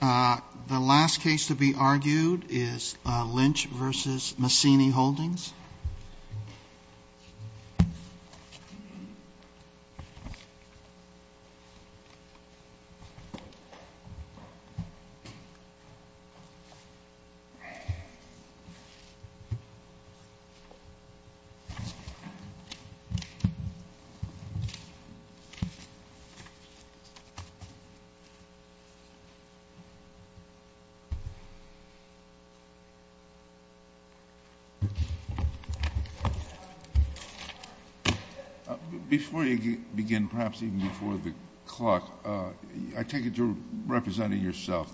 The last case to be argued is Lynch v. Massini Holdings. Before you begin, perhaps even before the clock, I take it you're representing yourself.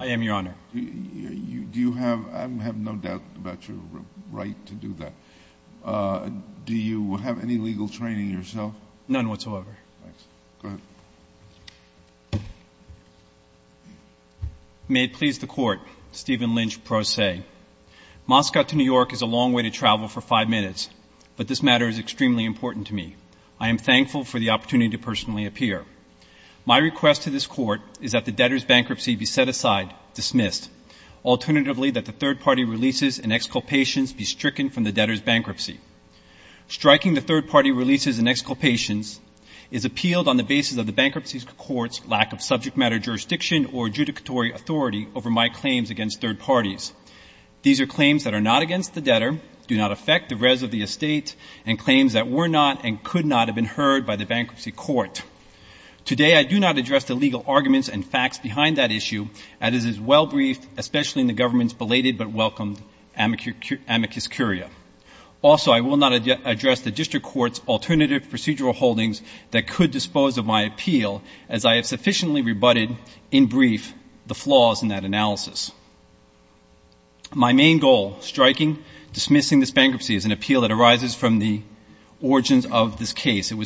I am, Your Honor. I have no doubt about your right to do that. Do you have any legal training yourself? None whatsoever. May it please the Court, Stephen Lynch, pro se. I have no doubt about your right to do that. My main goal, striking, dismissing this bankruptcy is an appeal that arises from the origins of this case. It was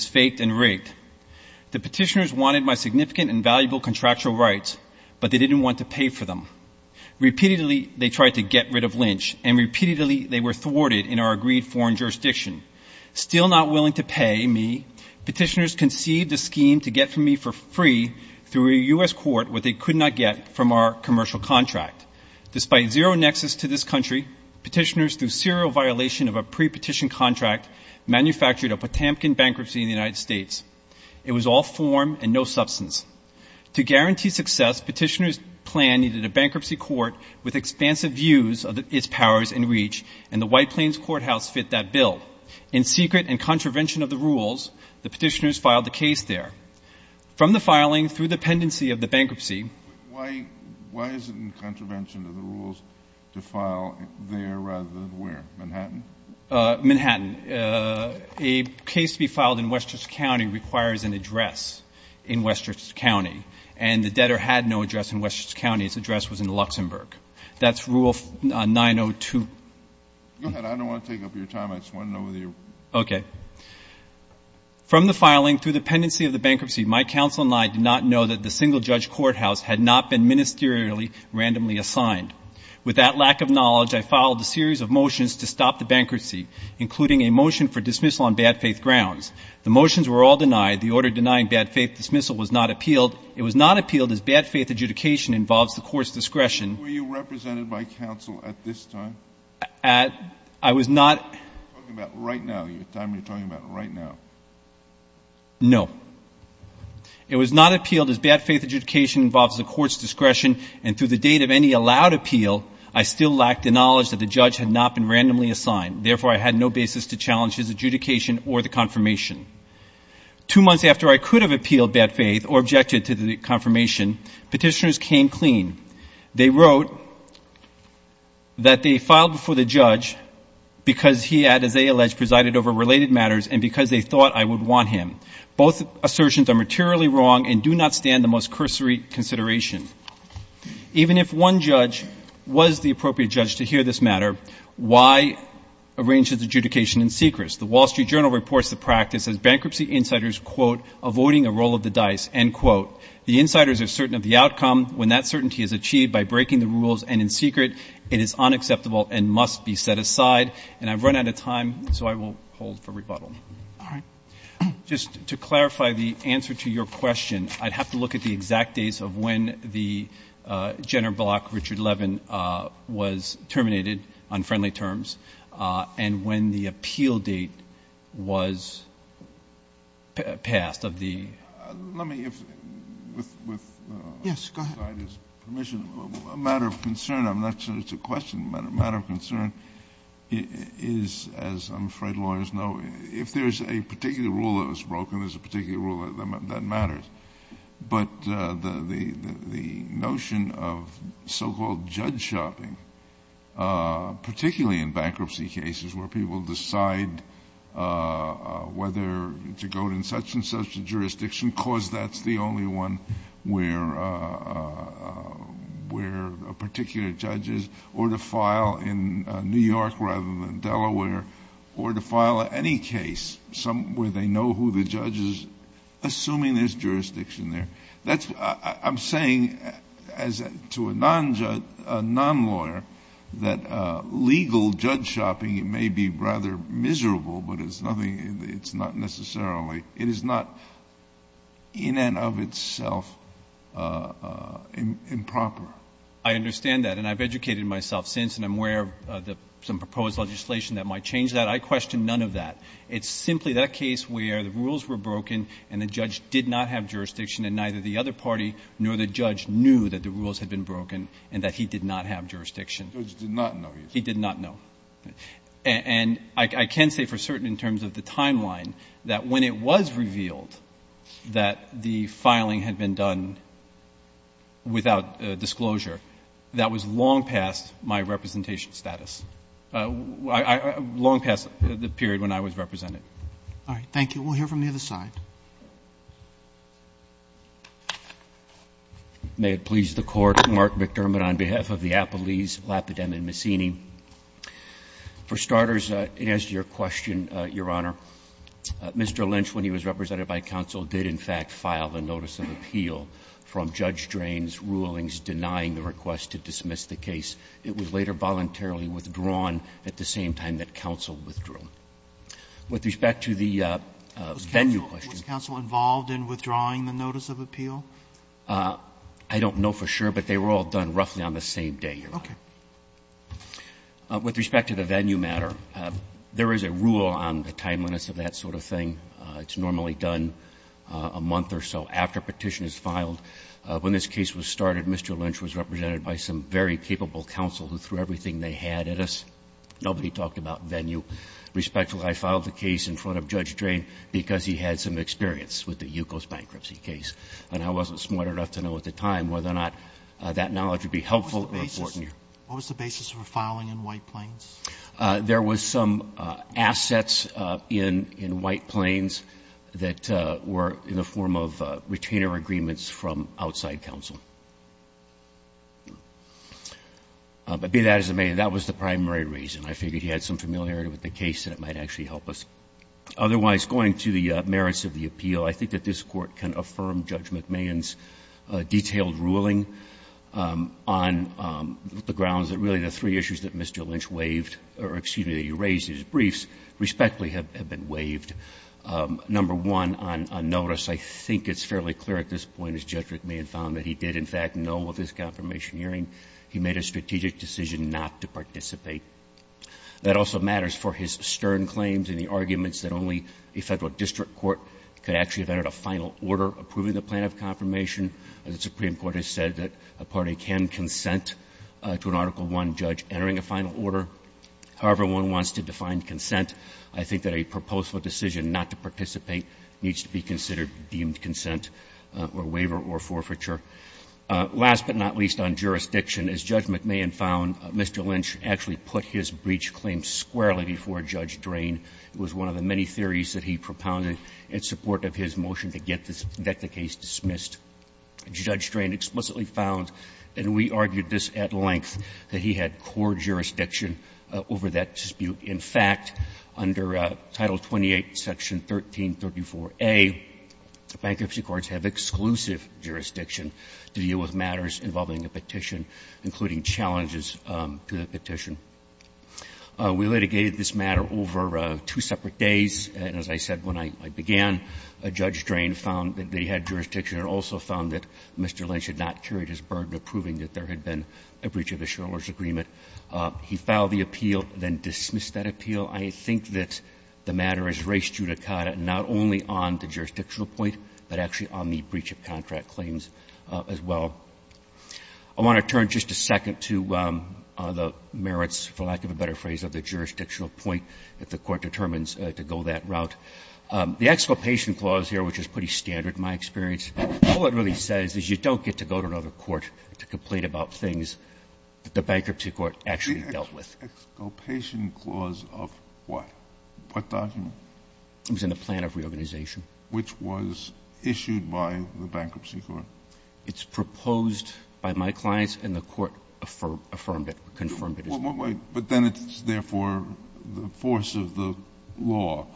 faked and rigged. The petitioners wanted my significant and valuable contractual rights, but they didn't want to pay for them. Repeatedly they tried to get rid of Lynch, and repeatedly they were thwarted in our agreed foreign jurisdiction. Still not willing to pay me, petitioners conceived a scheme to get from me for free through a U.S. court where they could not get from our commercial contract. Despite zero nexus to this country, petitioners, through serial violation of a pre-petition contract, manufactured a Potamkin bankruptcy in the United States. It was all form and no substance. To guarantee success, petitioners' plan needed a bankruptcy court with expansive views of its powers and reach, and the White Plains Courthouse fit that bill. In secret, in contravention of the rules, the petitioners filed the case there. From the filing, through the pendency of the bankruptcy — Why is it in contravention of the rules to file there rather than where? Manhattan? Manhattan. A case to be filed in Westchester County requires an address in Westchester County, and the debtor had no address in Westchester County. His address was in Luxembourg. That's Rule 902. Go ahead. I don't want to take up your time. I just want to know whether you're — Okay. From the filing, through the pendency of the bankruptcy, my counsel and I did not know that the single-judge courthouse had not been ministerially randomly assigned. With that lack of knowledge, I filed a series of motions to stop the bankruptcy, including a motion for dismissal on bad-faith grounds. The motions were all denied. The order denying bad-faith dismissal was not appealed. It was not appealed as bad-faith adjudication involves the Court's discretion — Were you represented by counsel at this time? I was not — You're talking about right now. You're telling me you're talking about right now. No. It was not appealed as bad-faith adjudication involves the Court's discretion, and through the date of any allowed appeal, I still lacked the knowledge that the judge had not been randomly assigned. Therefore, I had no basis to challenge his adjudication or the confirmation. Two months after I could have appealed bad-faith or objected to the confirmation, petitioners came clean. They wrote that they filed before the judge because he had, as they alleged, presided over related matters and because they thought I would want him. Both assertions are materially wrong and do not stand the most cursory consideration. Even if one judge was the appropriate judge to hear this matter, why arrange his adjudication in secret? The Wall Street Journal reports the practice as bankruptcy insiders, quote, avoiding a roll of the dice, end quote. The insiders are certain of the outcome. When that certainty is achieved by breaking the rules and in secret, it is unacceptable and must be set aside. And I've run out of time, so I will hold for rebuttal. All right. Just to clarify the answer to your question, I'd have to look at the exact dates of when the Jenner block, Richard Levin, was terminated on friendly terms and when the appeal date was passed of the ---- Let me, if, with ---- Yes, go ahead. ---- aside his permission, a matter of concern, I'm not sure it's a question, but a matter of concern is, as I'm afraid lawyers know, if there's a particular rule that was broken, there's a particular rule that matters. But the notion of so-called judge shopping, particularly in bankruptcy cases where people decide whether to go in such and such a jurisdiction because that's the only one where a particular judge is, or to file in New York City, New York rather than Delaware, or to file any case where they know who the judge is, assuming there's jurisdiction there, that's what I'm saying to a non-judge, a non-lawyer, that legal judge shopping may be rather miserable, but it's nothing ---- it's not necessarily, it is not in and of itself improper. I understand that. And I've educated myself since and I'm aware of some proposed legislation that might change that. I question none of that. It's simply that case where the rules were broken and the judge did not have jurisdiction and neither the other party nor the judge knew that the rules had been broken and that he did not have jurisdiction. The judge did not know. He did not know. And I can say for certain in terms of the timeline that when it was revealed that the filing had been done without disclosure, that was long past my representation status, long past the period when I was represented. All right. Thank you. We'll hear from the other side. May it please the Court. Mark McDermott on behalf of the Appellees Lapidem and Messini. For starters, in answer to your question, Your Honor, Mr. Lynch, when he was represented by counsel did, in fact, file the notice of appeal from Judge Drain's rulings denying the request to dismiss the case. It was later voluntarily withdrawn at the same time that counsel withdrew. With respect to the venue question. Was counsel involved in withdrawing the notice of appeal? I don't know for sure, but they were all done roughly on the same day, Your Honor. Okay. With respect to the venue matter, there is a rule on the timeliness of that sort of thing. It's normally done a month or so after a petition is filed. When this case was started, Mr. Lynch was represented by some very capable counsel who threw everything they had at us. Nobody talked about venue. Respectfully, I filed the case in front of Judge Drain because he had some experience with the Yukos bankruptcy case, and I wasn't smart enough to know at the time whether or not that knowledge would be helpful or important. What was the basis for filing in White Plains? There was some assets in White Plains that were in the form of retainer agreements from outside counsel. But be that as it may, that was the primary reason. I figured he had some familiarity with the case and it might actually help us. Otherwise, going to the merits of the appeal, I think that this Court can affirm Judge McMahon's detailed ruling on the grounds that really the three issues that Mr. Lynch waived or, excuse me, that he raised in his briefs, respectfully have been waived. Number one, on notice, I think it's fairly clear at this point, as Judge McMahon found, that he did, in fact, know of this confirmation hearing. He made a strategic decision not to participate. That also matters for his stern claims and the arguments that only a Federal district court could actually have entered a final order approving the plan of confirmation. The Supreme Court has said that a party can consent to an Article I judge entering a final order. However, one wants to define consent. I think that a proposal decision not to participate needs to be considered deemed consent or waiver or forfeiture. Last but not least on jurisdiction, as Judge McMahon found, Mr. Lynch actually put his breach claim squarely before Judge Drain. It was one of the many theories that he propounded in support of his motion to get the case dismissed. Judge Drain explicitly found, and we argued this at length, that he had core jurisdiction over that dispute. In fact, under Title 28, Section 1334a, bankruptcy courts have exclusive jurisdiction to deal with matters involving a petition, including challenges to the petition. We litigated this matter over two separate days. And as I said when I began, Judge Drain found that he had jurisdiction and also found that Mr. Lynch had not carried his burden of proving that there had been a breach of the shareholders' agreement. He filed the appeal, then dismissed that appeal. I think that the matter has raised judicata not only on the jurisdictional point, but actually on the breach of contract claims as well. I want to turn just a second to the merits, for lack of a better phrase, of the jurisdictional point that the Court determines to go that route. The exculpation clause here, which is pretty standard in my experience, all it really says is you don't get to go to another court to complain about things that the bankruptcy court actually dealt with. The exculpation clause of what? What document? It was in the plan of reorganization. Which was issued by the bankruptcy court? It's proposed by my clients, and the court affirmed it, confirmed it. But then it's therefore the force of the law.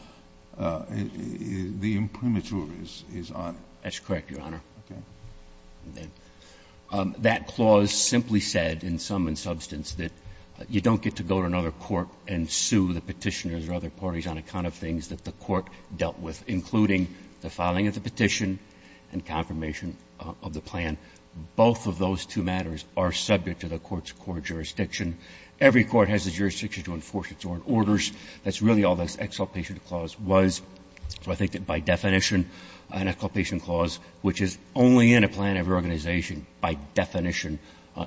The imprimatur is on it. That's correct, Your Honor. That clause simply said, in sum and substance, that you don't get to go to another court and sue the Petitioners or other parties on account of things that the court dealt with, including the filing of the petition and confirmation of the plan. Both of those two matters are subject to the court's core jurisdiction. Every court has a jurisdiction to enforce its own orders. That's really all this exculpation clause was. So I think that by definition, an exculpation clause which is only in a plan of reorganization by definition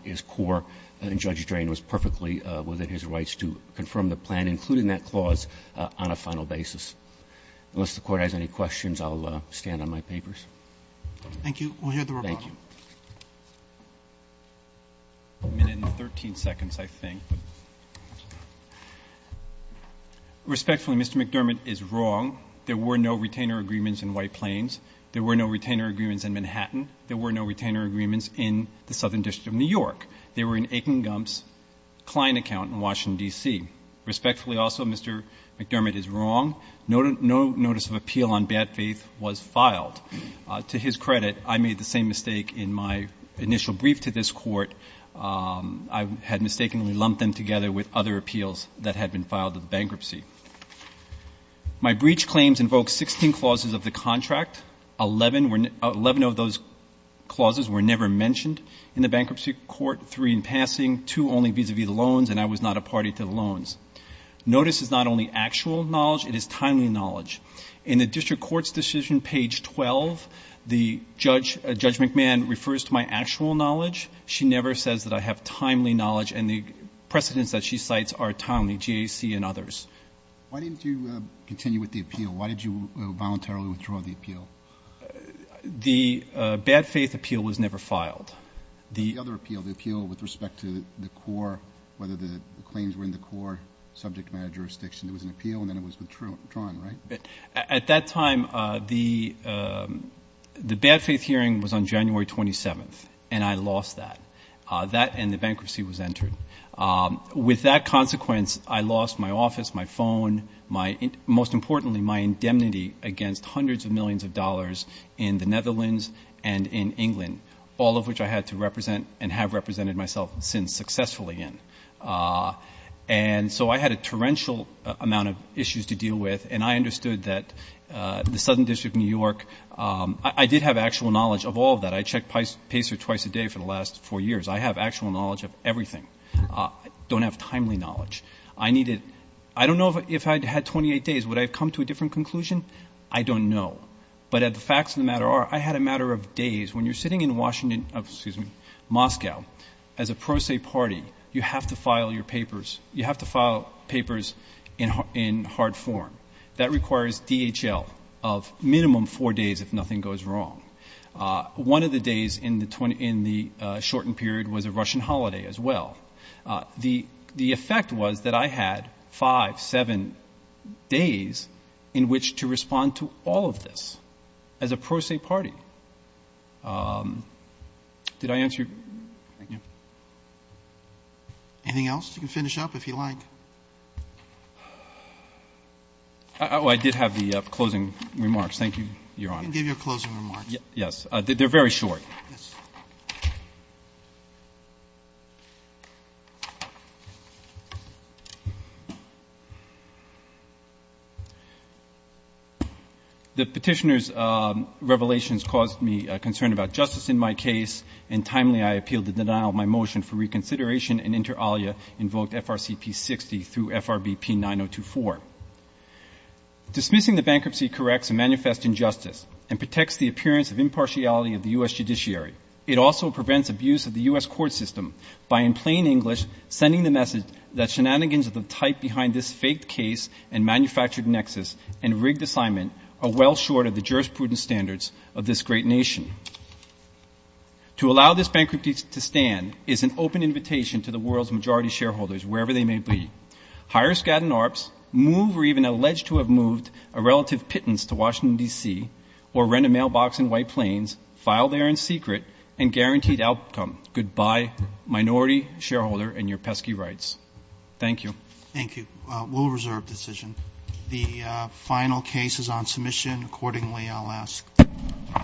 is core. And Judge Drain was perfectly within his rights to confirm the plan, including that clause, on a final basis. Unless the Court has any questions, I'll stand on my papers. Thank you. We'll hear the rebuttal. Thank you. A minute and 13 seconds, I think. Respectfully, Mr. McDermott is wrong. There were no retainer agreements in White Plains. There were no retainer agreements in Manhattan. There were no retainer agreements in the Southern District of New York. They were in Akin Gump's client account in Washington, D.C. Respectfully also, Mr. McDermott is wrong. No notice of appeal on bad faith was filed. To his credit, I made the same mistake in my initial brief to this Court. I had mistakenly lumped them together with other appeals that had been filed in bankruptcy. My breach claims invoke 16 clauses of the contract. Eleven of those clauses were never mentioned in the bankruptcy court, three in passing, two only vis-à-vis the loans, and I was not a party to the loans. Notice is not only actual knowledge, it is timely knowledge. In the District Court's decision, page 12, Judge McMahon refers to my actual knowledge. She never says that I have timely knowledge, and the precedents that she cites are timely, GAC and others. Why didn't you continue with the appeal? Why did you voluntarily withdraw the appeal? The bad faith appeal was never filed. The other appeal, the appeal with respect to the core, whether the claims were in the core subject matter jurisdiction, it was an appeal and then it was withdrawn, right? At that time, the bad faith hearing was on January 27th, and I lost that. That and the bankruptcy was entered. With that consequence, I lost my office, my phone, my, most importantly, my indemnity against hundreds of millions of dollars in the Netherlands and in England, all of which I had to represent and have represented myself since successfully in. And so I had a torrential amount of issues to deal with, and I understood that the Southern District of New York, I did have actual knowledge of all of that. I checked Pacer twice a day for the last four years. I have actual knowledge of everything. I don't have timely knowledge. I needed, I don't know if I had 28 days, would I have come to a different conclusion? I don't know. But the facts of the matter are I had a matter of days. When you're sitting in Washington, excuse me, Moscow, as a pro se party, you have to file your papers. You have to file papers in hard form. That requires DHL of minimum four days if nothing goes wrong. One of the days in the shortened period was a Russian holiday as well. The effect was that I had five, seven days in which to respond to all of this as a pro se party. Did I answer your question? Thank you. Anything else? You can finish up if you like. Oh, I did have the closing remarks. Thank you, Your Honor. You can give your closing remarks. Yes. They're very short. Yes. Thank you. The petitioner's revelations caused me concern about justice in my case, and timely I appealed the denial of my motion for reconsideration and inter alia invoked FRCP 60 through FRBP 9024. Dismissing the bankruptcy corrects a manifest injustice and protects the appearance of impartiality of the U.S. judiciary. It also prevents abuse of the U.S. court system by, in plain English, sending the message that shenanigans of the type behind this faked case and manufactured nexus and rigged assignment are well short of the jurisprudence standards of this great nation. To allow this bankruptcy to stand is an open invitation to the world's majority shareholders, wherever they may be. Hire Skadden Arps, move or even allege to have moved a relative pittance to Washington, D.C., or rent a mailbox in White Plains, file there in secret, and guaranteed outcome. Goodbye, minority shareholder and your pesky rights. Thank you. Thank you. We'll reserve the decision. The final case is on submission. Accordingly, I'll ask. Thank you. Thank you. Thank you.